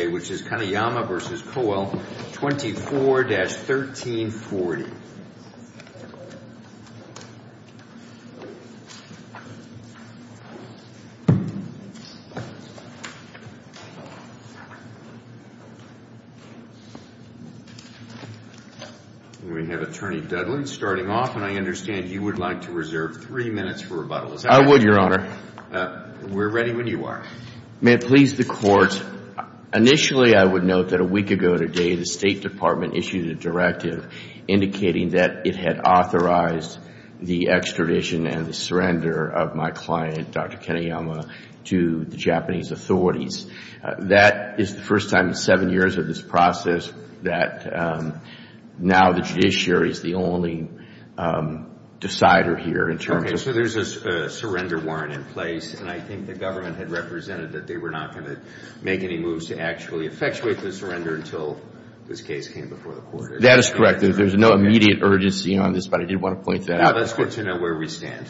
24-1340. And we have Attorney Dudley starting off, and I understand you would like to reserve three minutes for rebuttals. I would, Your Honor. We're ready when you are. May it please the Court, initially I would note that a week ago today, the State Department issued a directive indicating that it had authorized the extradition and the surrender of my client, Dr. Kenayama, to the Japanese authorities. That is the first time in seven years of this process that now the judiciary is the only decider here in terms of So there's a surrender warrant in place, and I think the government had represented that they were not going to make any moves to actually effectuate the surrender until this case came before the Court. That is correct. There's no immediate urgency on this, but I did want to point that out. Now let's get to know where we stand.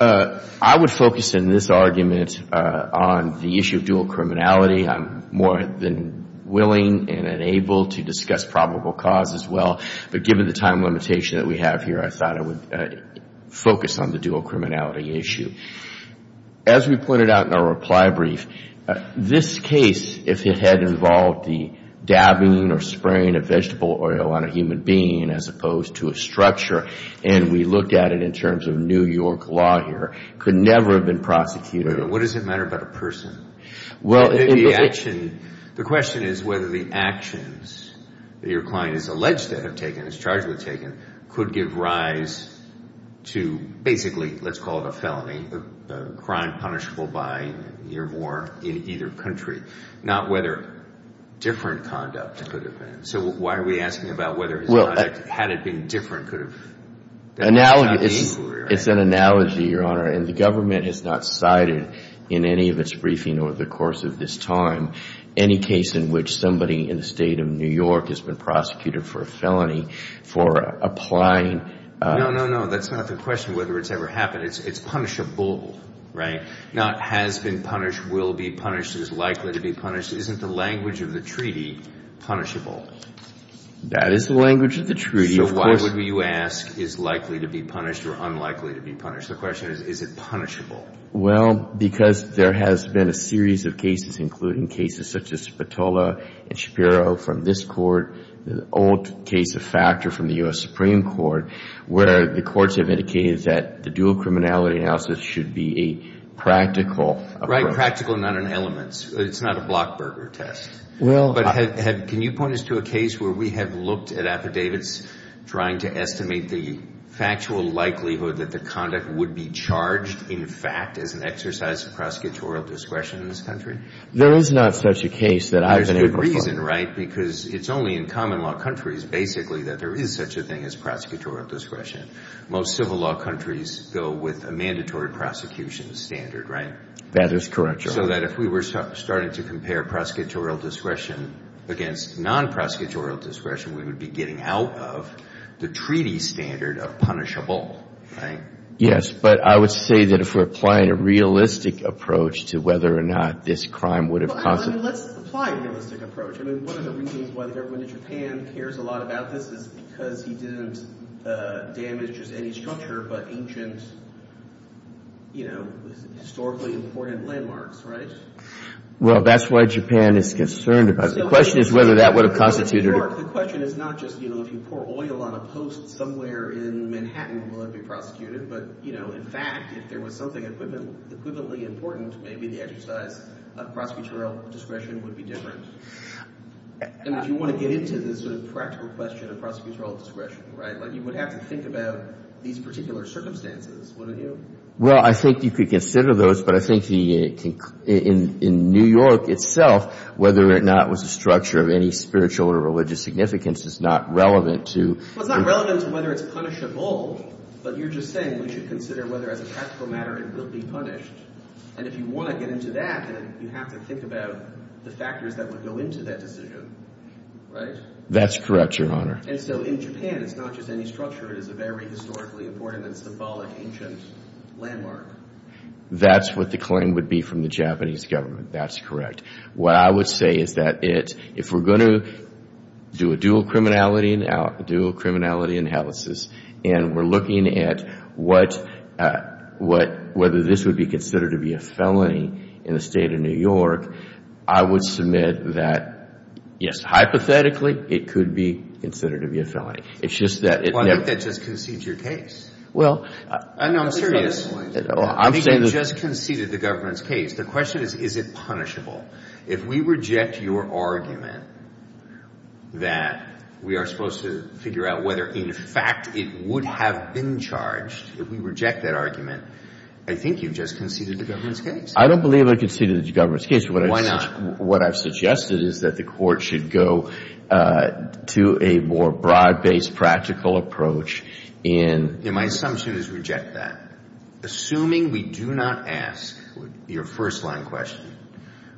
I would focus in this argument on the issue of dual criminality. I'm more than willing and able to discuss probable cause as well. But given the time limitation that we have here, I thought I would focus on the dual criminality issue. As we pointed out in our reply brief, this case, if it had involved the dabbing or spraying of vegetable oil on a human being as opposed to a structure, and we looked at it in terms of New York law here, could never have been prosecuted. What does it matter about a person? The question is whether the actions that your client is alleged to have taken, is charged with taking, could give rise to basically, let's call it a felony, a crime punishable by a year of war in either country, not whether different conduct could have been. So why are we asking about whether his conduct, had it been different, could have... It's an analogy, Your Honor, and the government has not cited in any of its briefing over the course of this time, any case in which somebody in the state of New York has been prosecuted for a felony, for applying... No, no, no. That's not the question whether it's ever happened. It's punishable, right? Not has been punished, will be punished, is likely to be punished. Isn't the language of the treaty punishable? That is the language of the treaty. So why would you ask is likely to be punished or unlikely to be punished? The question is, is it punishable? Well, because there has been a series of cases, including cases such as Spatola and Shapiro from this court, the old case of Factor from the U.S. Supreme Court, where the courts have indicated that the dual criminality analysis should be a practical approach. Right, practical, not in elements. It's not a blockburger test. But can you point us to a case where we have looked at affidavits trying to estimate the factual likelihood that the conduct would be charged, in fact, as an exercise of prosecutorial discretion in this country? There is not such a case that I've been able to find. There's good reason, right? Because it's only in common law countries, basically, that there is such a thing as prosecutorial discretion. Most civil law countries go with a mandatory prosecution standard, right? That is correct, Your Honor. So that if we were starting to compare prosecutorial discretion against non-prosecutorial discretion, we would be getting out of the treaty standard of punishable, right? Yes, but I would say that if we're applying a realistic approach to whether or not this crime would have caused it. Let's apply a realistic approach. I mean, one of the reasons why the government of Japan cares a lot about this is because he didn't damage any structure, but ancient, you know, historically important landmarks, right? Well, that's why Japan is concerned about it. The question is whether that would have constituted a... The question is not just, you know, if you pour oil on a post somewhere in Manhattan, will it be prosecuted? But, you know, in fact, if there was something equivalently important, maybe the exercise of prosecutorial discretion would be different. And if you want to get into this sort of practical question of prosecutorial discretion, right, you would have to think about these particular circumstances, wouldn't you? Well, I think you could consider those, but I think in New York itself, whether or not it was a structure of any spiritual or religious significance is not relevant to... Well, it's not relevant to whether it's punishable, but you're just saying we should consider whether as a practical matter it will be punished. And if you want to get into that, then you have to think about the factors that would go into that decision, right? That's correct, Your Honor. And so in Japan, it's not just any structure. It is a very historically important and symbolic ancient landmark. That's what the claim would be from the Japanese government. That's correct. What I would say is that if we're going to do a dual criminality analysis and we're looking at whether this would be considered to be a felony in the State of New York, I would submit that, yes, hypothetically, it could be considered to be a felony. It's just that... Well, I think that just concedes your case. Well... No, I'm serious. I think you just conceded the government's case. The question is, is it punishable? If we reject your argument that we are supposed to figure out whether, in fact, it would have been charged, if we reject that argument, I think you've just conceded the government's case. I don't believe I conceded the government's case. Why not? What I've suggested is that the Court should go to a more broad-based, practical approach in... Yeah, my assumption is reject that. Assuming we do not ask your first-line question,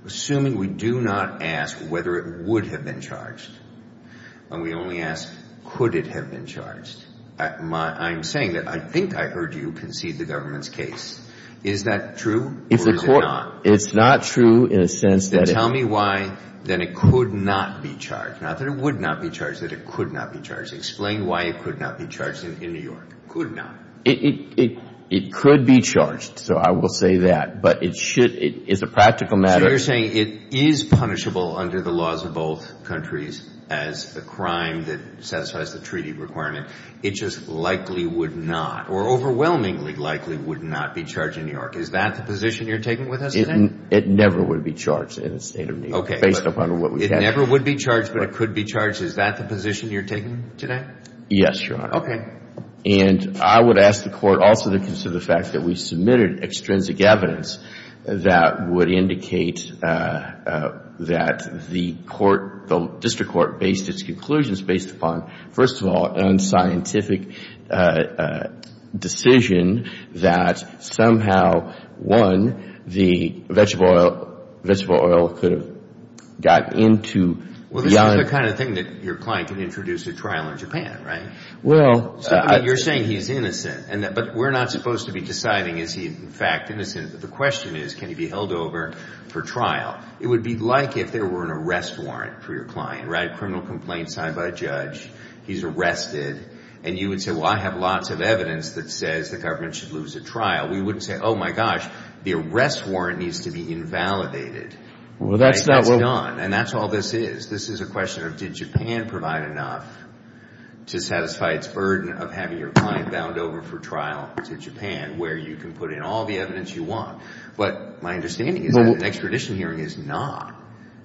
assuming we do not ask whether it would have been charged, and we only ask could it have been charged, I'm saying that I think I heard you concede the government's case. Is that true? Or is it not? It's not true in a sense that... Then tell me why then it could not be charged. Not that it would not be charged, that it could not be charged. Explain why it could not be charged in New York. Could not. It could be charged, so I will say that. But it should... It's a practical matter... So you're saying it is punishable under the laws of both countries as the crime that satisfies the treaty requirement. It just likely would not or overwhelmingly likely would not be charged in New York. Is that the position you're taking with us today? It never would be charged in the State of New York, based upon what we have... It never would be charged, but it could be charged. Is that the position you're taking today? Yes, Your Honor. Okay. And I would ask the Court also to consider the fact that we submitted extrinsic evidence that would indicate that the Court, the District Court, based its conclusions, based upon, first of all, unscientific decision that somehow, one, the vegetable oil could have gotten into... Well, this is the kind of thing that your client can introduce at trial in Japan, right? Well... You're saying he's innocent, but we're not supposed to be deciding is he in fact innocent. The question is, can he be held over for trial? It would be like if there were an arrest warrant for your client, right? A criminal complaint signed by a judge, he's arrested, and you would say, well, I have lots of evidence that says the government should lose at trial. We wouldn't say, oh, my gosh, the arrest warrant needs to be invalidated. Well, that's not what... And that's all this is. This is a question of, did Japan provide enough to satisfy its burden of having your client bound over for trial to Japan, where you can put in all the evidence you want? But my understanding is that an extradition hearing is not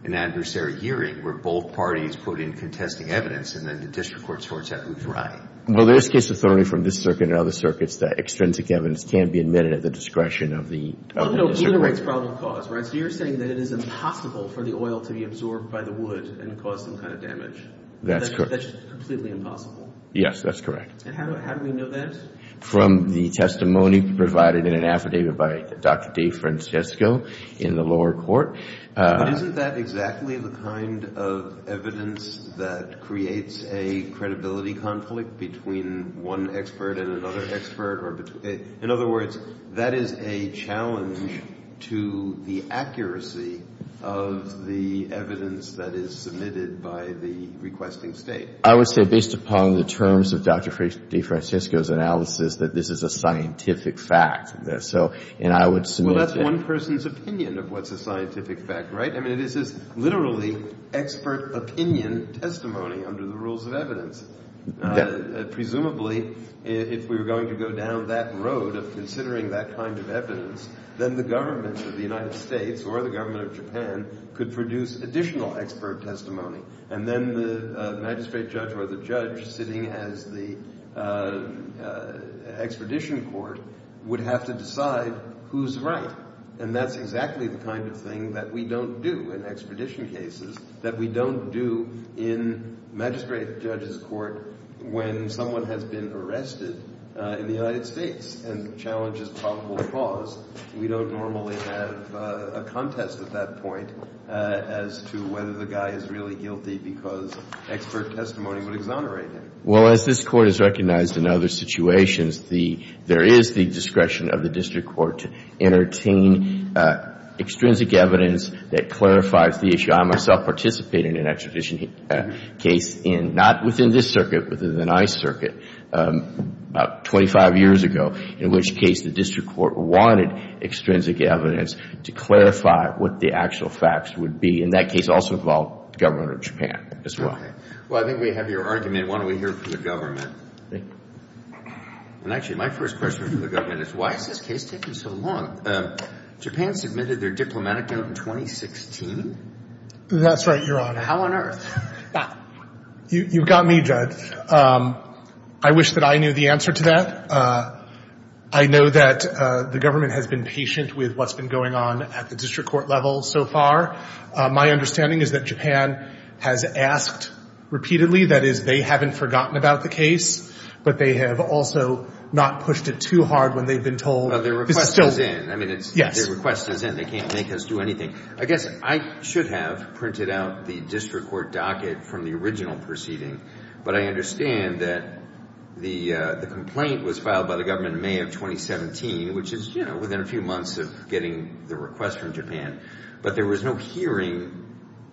an adversary hearing, where both parties put in contesting evidence, and then the district court sorts out who's right. Well, there is case authority from this circuit and other circuits that extrinsic evidence can be admitted at the discretion of the... Well, no, either way, it's probable cause, right? So you're saying that it is impossible for the oil to be absorbed by the wood and cause some kind of damage? That's correct. That's just completely impossible? Yes, that's correct. And how do we know that? From the testimony provided in an affidavit by Dr. DeFrancisco in the lower court. But isn't that exactly the kind of evidence that creates a credibility conflict between one expert and another expert? In other words, that is a challenge to the accuracy of the evidence that is submitted by the requesting State. I would say, based upon the terms of Dr. DeFrancisco's analysis, that this is a scientific fact. So, and I would submit... Well, that's one person's opinion of what's a scientific fact, right? I mean, it is literally expert opinion testimony under the rules of evidence. Presumably, if we were going to go down that road of considering that kind of evidence, then the government of the United States or the government of Japan could produce additional expert testimony. And then the magistrate judge or the judge sitting as the expedition court would have to decide who's right. And that's exactly the kind of thing that we don't do in expedition cases, that we don't do in magistrate judge's court when someone has been arrested in the United States. And the challenge is probable cause. We don't normally have a contest at that point as to whether the guy is really guilty because expert testimony would exonerate him. Well, as this Court has recognized in other situations, there is the discretion of the district court to entertain extrinsic evidence that clarifies the issue. And I myself participated in an extradition case in, not within this circuit, within the NICE circuit about 25 years ago, in which case the district court wanted extrinsic evidence to clarify what the actual facts would be. And that case also involved the government of Japan as well. Well, I think we have your argument. Why don't we hear it from the government? And actually, my first question for the government is, why is this case taking so long? Japan submitted their diplomatic note in 2016? That's right, Your Honor. How on earth? You've got me, Judge. I wish that I knew the answer to that. I know that the government has been patient with what's been going on at the district court level so far. My understanding is that Japan has asked repeatedly. That is, they haven't forgotten about the case, but they have also not pushed it too hard when they've been told. Well, their request is in. I mean, their request is in. They can't make us do anything. I guess I should have printed out the district court docket from the original proceeding, but I understand that the complaint was filed by the government in May of 2017, which is within a few months of getting the request from Japan. But there was no hearing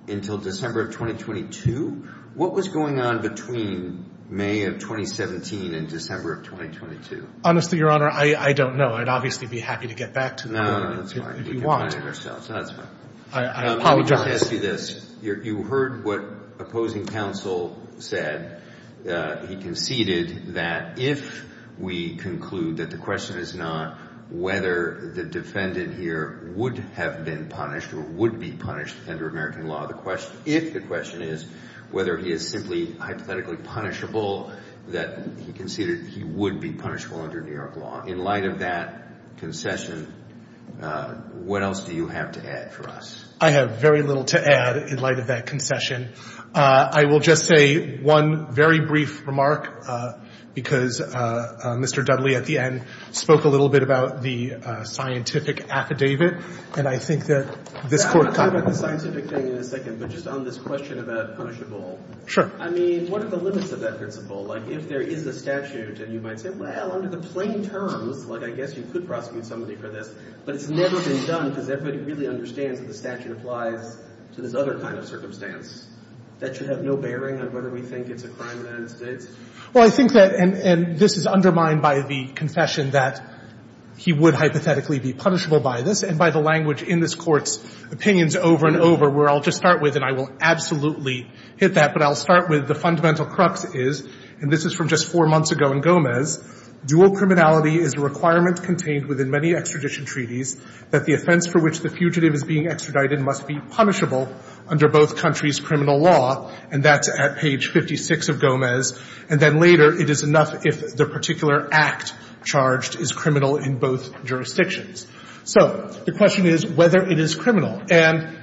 until December of 2022? What was going on between May of 2017 and December of 2022? Honestly, Your Honor, I don't know. I'd obviously be happy to get back to the court if you want. No, that's fine. We can find it ourselves. No, that's fine. I apologize. Let me just ask you this. You heard what opposing counsel said. He conceded that if we conclude that the question is not whether the defendant here would have been punished or would be punished under American law, if the question is whether he is simply hypothetically punishable, that he conceded he would be punishable under New York law. In light of that concession, what else do you have to add for us? I have very little to add in light of that concession. I will just say one very brief remark because Mr. Dudley, at the end, spoke a little bit about the scientific affidavit, and I think that this court... Not about the scientific thing in a second, but just on this question about punishable. Sure. I mean, what are the limits of that principle? Like, if there is a statute, and you might say, well, under the plain terms, like, I guess you could prosecute somebody for this, but it's never been done because everybody really understands that the statute applies to this other kind of circumstance. That should have no bearing on whether we think it's a crime in the United States? Well, I think that, and this is undermined by the confession that he would hypothetically be punishable by this, and by the language in this Court's opinions over and over, where I'll just start with, and I will absolutely hit that, but I'll start with, where the fundamental crux is, and this is from just four months ago in Gomez, dual criminality is a requirement contained within many extradition treaties that the offense for which the fugitive is being extradited must be punishable under both countries' criminal law, and that's at page 56 of Gomez, and then later, it is enough if the particular act charged is criminal in both jurisdictions. So the question is whether it is criminal. And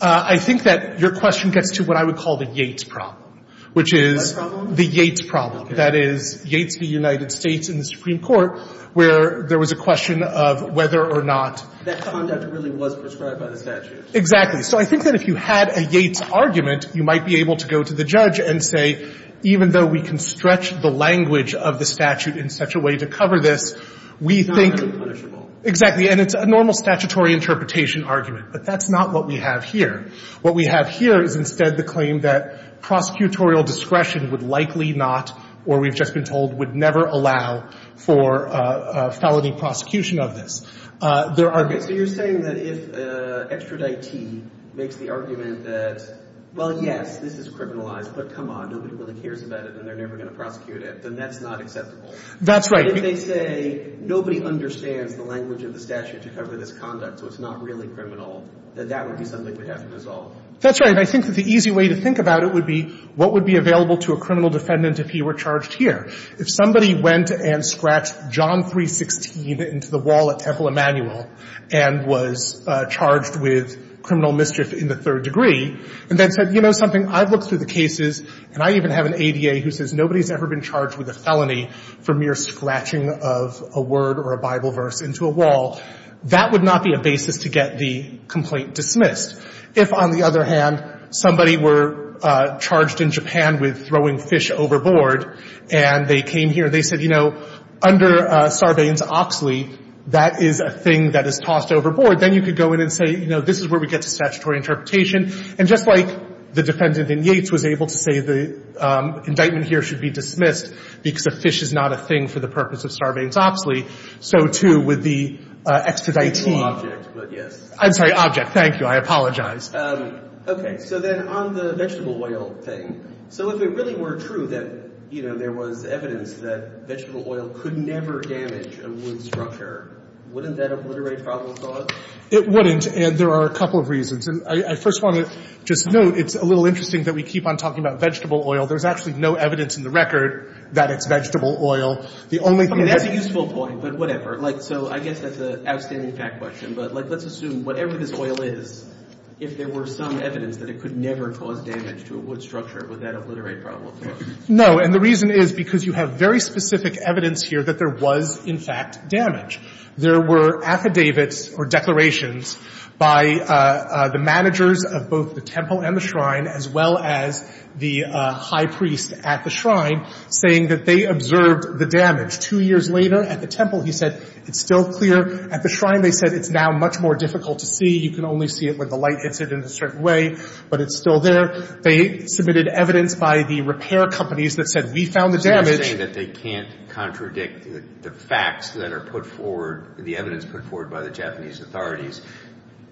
I think that your question gets to what I would call the Yates problem, which is the Yates problem. That is, Yates v. United States in the Supreme Court, where there was a question of whether or not. That conduct really was prescribed by the statute. Exactly. So I think that if you had a Yates argument, you might be able to go to the judge and say, even though we can stretch the language of the statute in such a way to cover this, we think. It's not punishable. Exactly, and it's a normal statutory interpretation argument, but that's not what we have here. What we have here is instead the claim that prosecutorial discretion would likely not, or we've just been told, would never allow for a felony prosecution of this. So you're saying that if extraditee makes the argument that, well, yes, this is criminalized, but come on, nobody really cares about it and they're never going to prosecute it, then that's not acceptable. That's right. But if they say nobody understands the language of the statute to cover this conduct, so it's not really criminal, then that would be something we'd have to resolve. That's right. And I think that the easy way to think about it would be what would be available to a criminal defendant if he were charged here. If somebody went and scratched John 316 into the wall at Temple Emanuel and was charged with criminal mischief in the third degree and then said, you know something, I've looked through the cases and I even have an ADA who says nobody's ever been charged with a felony for mere scratching of a word or a Bible verse into a wall, that would not be a basis to get the complaint dismissed. If, on the other hand, somebody were charged in Japan with throwing fish overboard and they came here and they said, you know, under Sarbanes-Oxley, that is a thing that is tossed overboard, then you could go in and say, you know, this is where we get to statutory interpretation. And just like the defendant in Yates was able to say the indictment here should be dismissed because a fish is not a thing for the purpose of Sarbanes-Oxley, so too with the extraditee. It's a legal object, but yes. I'm sorry, object. Thank you. I apologize. Okay. So then on the vegetable oil thing, so if it really were true that, you know, there was evidence that vegetable oil could never damage a wood structure, wouldn't that obliterate probable cause? It wouldn't, and there are a couple of reasons. And I first want to just note, it's a little interesting that we keep on talking about vegetable oil. There's actually no evidence in the record that it's vegetable oil. The only thing that — That's a useful point, but whatever. Like, so I guess that's an outstanding fact question, but, like, let's assume whatever this oil is, if there were some evidence that it could never cause damage to a wood structure, would that obliterate probable cause? No. And the reason is because you have very specific evidence here that there was, in fact, damage. There were affidavits or declarations by the managers of both the temple and the shrine, as well as the high priest at the shrine, saying that they observed the damage. Two years later at the temple, he said, it's still clear. At the shrine, they said, it's now much more difficult to see. You can only see it when the light hits it in a certain way, but it's still there. They submitted evidence by the repair companies that said, we found the damage. They're saying that they can't contradict the facts that are put forward, the evidence put forward by the Japanese authorities.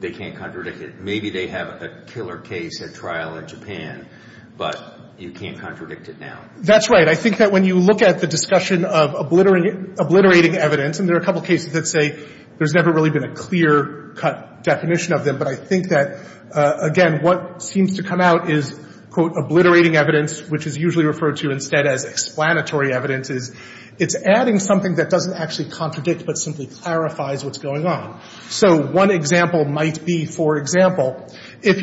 They can't contradict it. Maybe they have a killer case at trial in Japan, but you can't contradict it now. That's right. I think that when you look at the discussion of obliterating evidence, and there are a couple cases that say there's never really been a clear-cut definition of them. But I think that, again, what seems to come out is, quote, obliterating evidence, which is usually referred to instead as explanatory evidence. It's adding something that doesn't actually contradict but simply clarifies what's going on. So one example might be, for example, if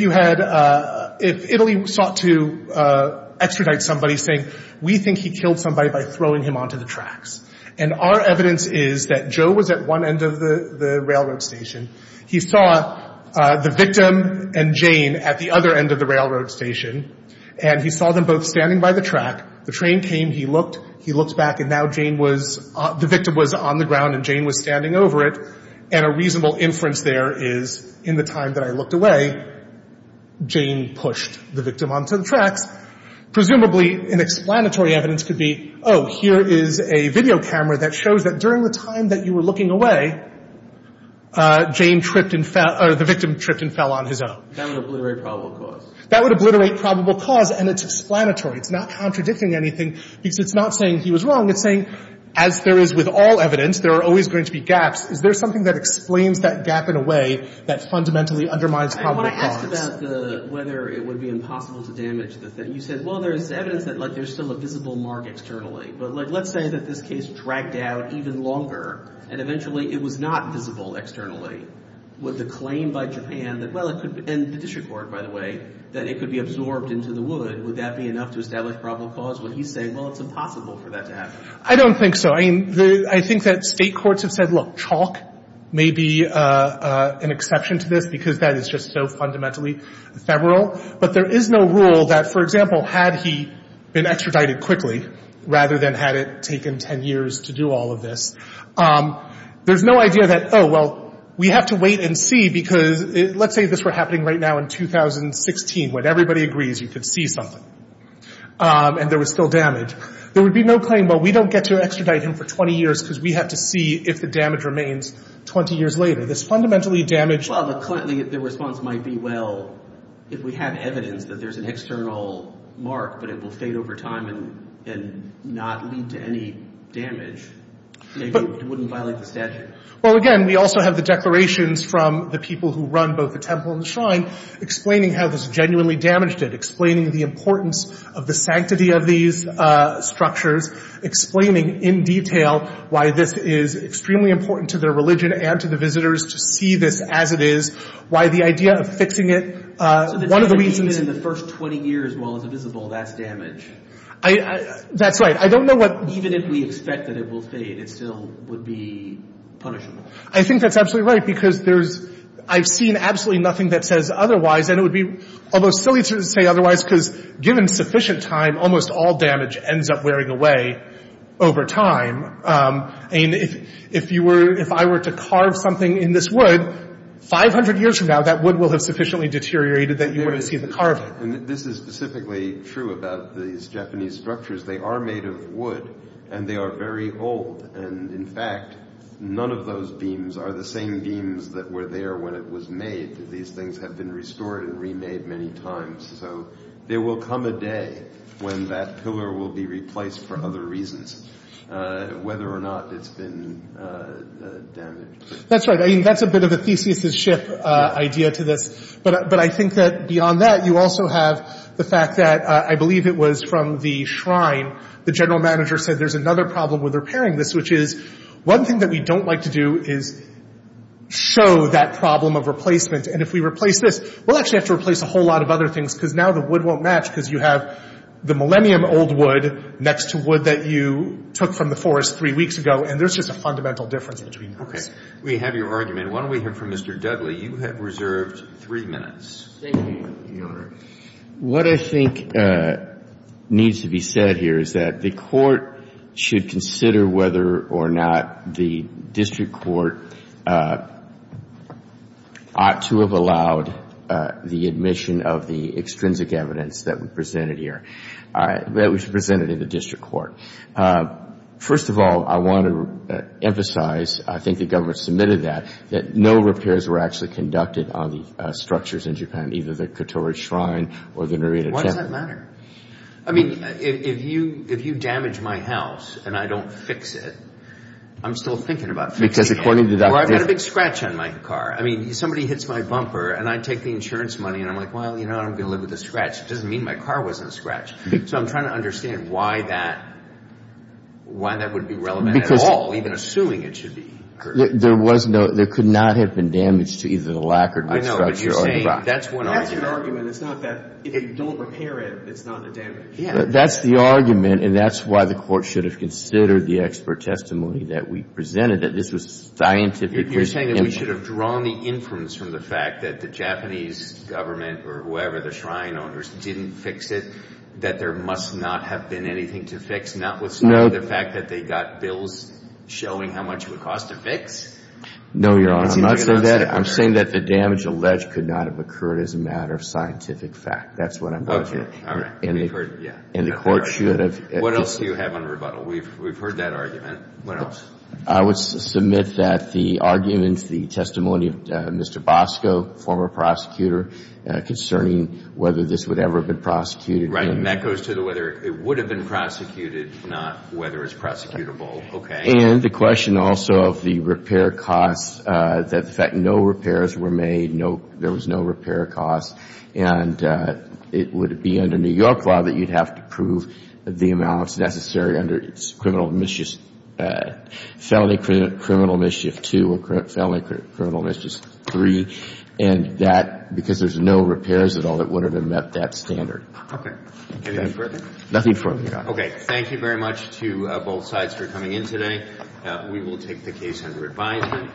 Italy sought to extradite somebody saying, we think he killed somebody by throwing him onto the tracks. And our evidence is that Joe was at one end of the railroad station. He saw the victim and Jane at the other end of the railroad station. And he saw them both standing by the track. The train came. He looked. He looked back. And now Jane was, the victim was on the ground and Jane was standing over it. And a reasonable inference there is, in the time that I looked away, Jane pushed the victim onto the tracks. Presumably, an explanatory evidence could be, oh, here is a video camera that shows that during the time that you were looking away, Jane tripped and fell, or the victim tripped and fell on his own. That would obliterate probable cause. That would obliterate probable cause. And it's explanatory. It's not contradicting anything because it's not saying he was wrong. It's saying, as there is with all evidence, there are always going to be gaps. Is there something that explains that gap in a way that fundamentally undermines probable cause? And when I asked about whether it would be impossible to damage the thing, you said, well, there's evidence that, like, there's still a visible mark externally. But, like, let's say that this case dragged out even longer and eventually it was not visible externally. Would the claim by Japan that, well, it could be, and the district court, by the way, that it could be absorbed into the wood, would that be enough to establish probable cause? Would he say, well, it's impossible for that to happen? I don't think so. I mean, I think that state courts have said, look, chalk may be an exception to this because that is just so fundamentally febrile. But there is no rule that, for example, had he been extradited quickly rather than had it taken 10 years to do all of this, there's no idea that, oh, well, we have to wait and see because let's say this were happening right now in 2016 when everybody agrees you could see something and there was still damage. There would be no claim, well, we don't get to extradite him for 20 years because we have to see if the damage remains 20 years later. This fundamentally damaged— Well, the response might be, well, if we have evidence that there's an external mark but it will fade over time and not lead to any damage, maybe it wouldn't violate the statute. Well, again, we also have the declarations from the people who run both the temple and the shrine explaining how this genuinely damaged it, explaining the importance of the sanctity of these structures, explaining in detail why this is extremely important to their religion and to the visitors to see this as it is, why the idea of fixing it, one of the reasons— So the damage is in the first 20 years while it's visible, that's damage. That's right. I don't know what— Even if we expect that it will fade, it still would be punishable. I think that's absolutely right because there's—I've seen absolutely nothing that says otherwise and it would be almost silly to say otherwise because given sufficient time, almost all damage ends up wearing away over time. I mean, if you were—if I were to carve something in this wood, 500 years from now, that wood will have sufficiently deteriorated that you wouldn't see the carving. This is specifically true about these Japanese structures. They are made of wood and they are very old. And in fact, none of those beams are the same beams that were there when it was made. These things have been restored and remade many times. So there will come a day when that pillar will be replaced for other reasons, whether or not it's been damaged. That's right. I mean, that's a bit of a Theseus' ship idea to this. But I think that beyond that, you also have the fact that I believe it was from the shrine. The general manager said there's another problem with repairing this, which is one thing that we don't like to do is show that problem of replacement. And if we replace this, we'll actually have to replace a whole lot of other things because now the wood won't match because you have the millennium old wood next to wood that you took from the forest three weeks ago. And there's just a fundamental difference between those. Okay. We have your argument. Why don't we hear from Mr. Dudley? You have reserved three minutes. Thank you, Your Honor. What I think needs to be said here is that the court should consider whether or not the district court ought to have allowed the admission of the extrinsic evidence that we presented here, that was presented in the district court. First of all, I want to emphasize, I think the government submitted that, that no repairs were actually conducted on the structures in Japan, either the Katori Shrine or the Narita Temple. Why does that matter? I mean, if you damage my house and I don't fix it, I'm still thinking about fixing it. Because according to Dr. Jeff- Or I've got a big scratch on my car. I mean, somebody hits my bumper and I take the insurance money and I'm like, well, you know what, I'm going to live with a scratch. It doesn't mean my car wasn't scratched. So I'm trying to understand why that would be relevant at all, even assuming it should be. There could not have been damage to either the lacquered wood structure or the rock. That's one argument. It's not that if you don't repair it, it's not a damage. Yeah. That's the argument, and that's why the court should have considered the expert testimony that we presented, that this was a scientific- You're saying that we should have drawn the inference from the fact that the Japanese government or whoever, the shrine owners, didn't fix it, that there must not have been anything to fix, notwithstanding the fact that they got bills showing how much it would cost to fix? No, Your Honor. I'm not saying that. I'm saying that the damage alleged could not have occurred as a matter of scientific fact. That's what I'm- Okay. All right. And the court should have- What else do you have on rebuttal? We've heard that argument. What else? I would submit that the arguments, the testimony of Mr. Bosco, former prosecutor, concerning whether this would ever have been prosecuted- Right. And that goes to whether it would have been prosecuted, not whether it's prosecutable. Okay. And the question also of the repair costs, the fact that no repairs were made, there was no repair cost, and it would be under New York law that you'd have to prove the amounts necessary under felony criminal mischief two or felony criminal mischief three, and that because there's no repairs at all that would have met that standard. Okay. Anything further? Nothing further, Your Honor. Okay. Thank you very much to both sides for coming in today. We will take the case under advisement.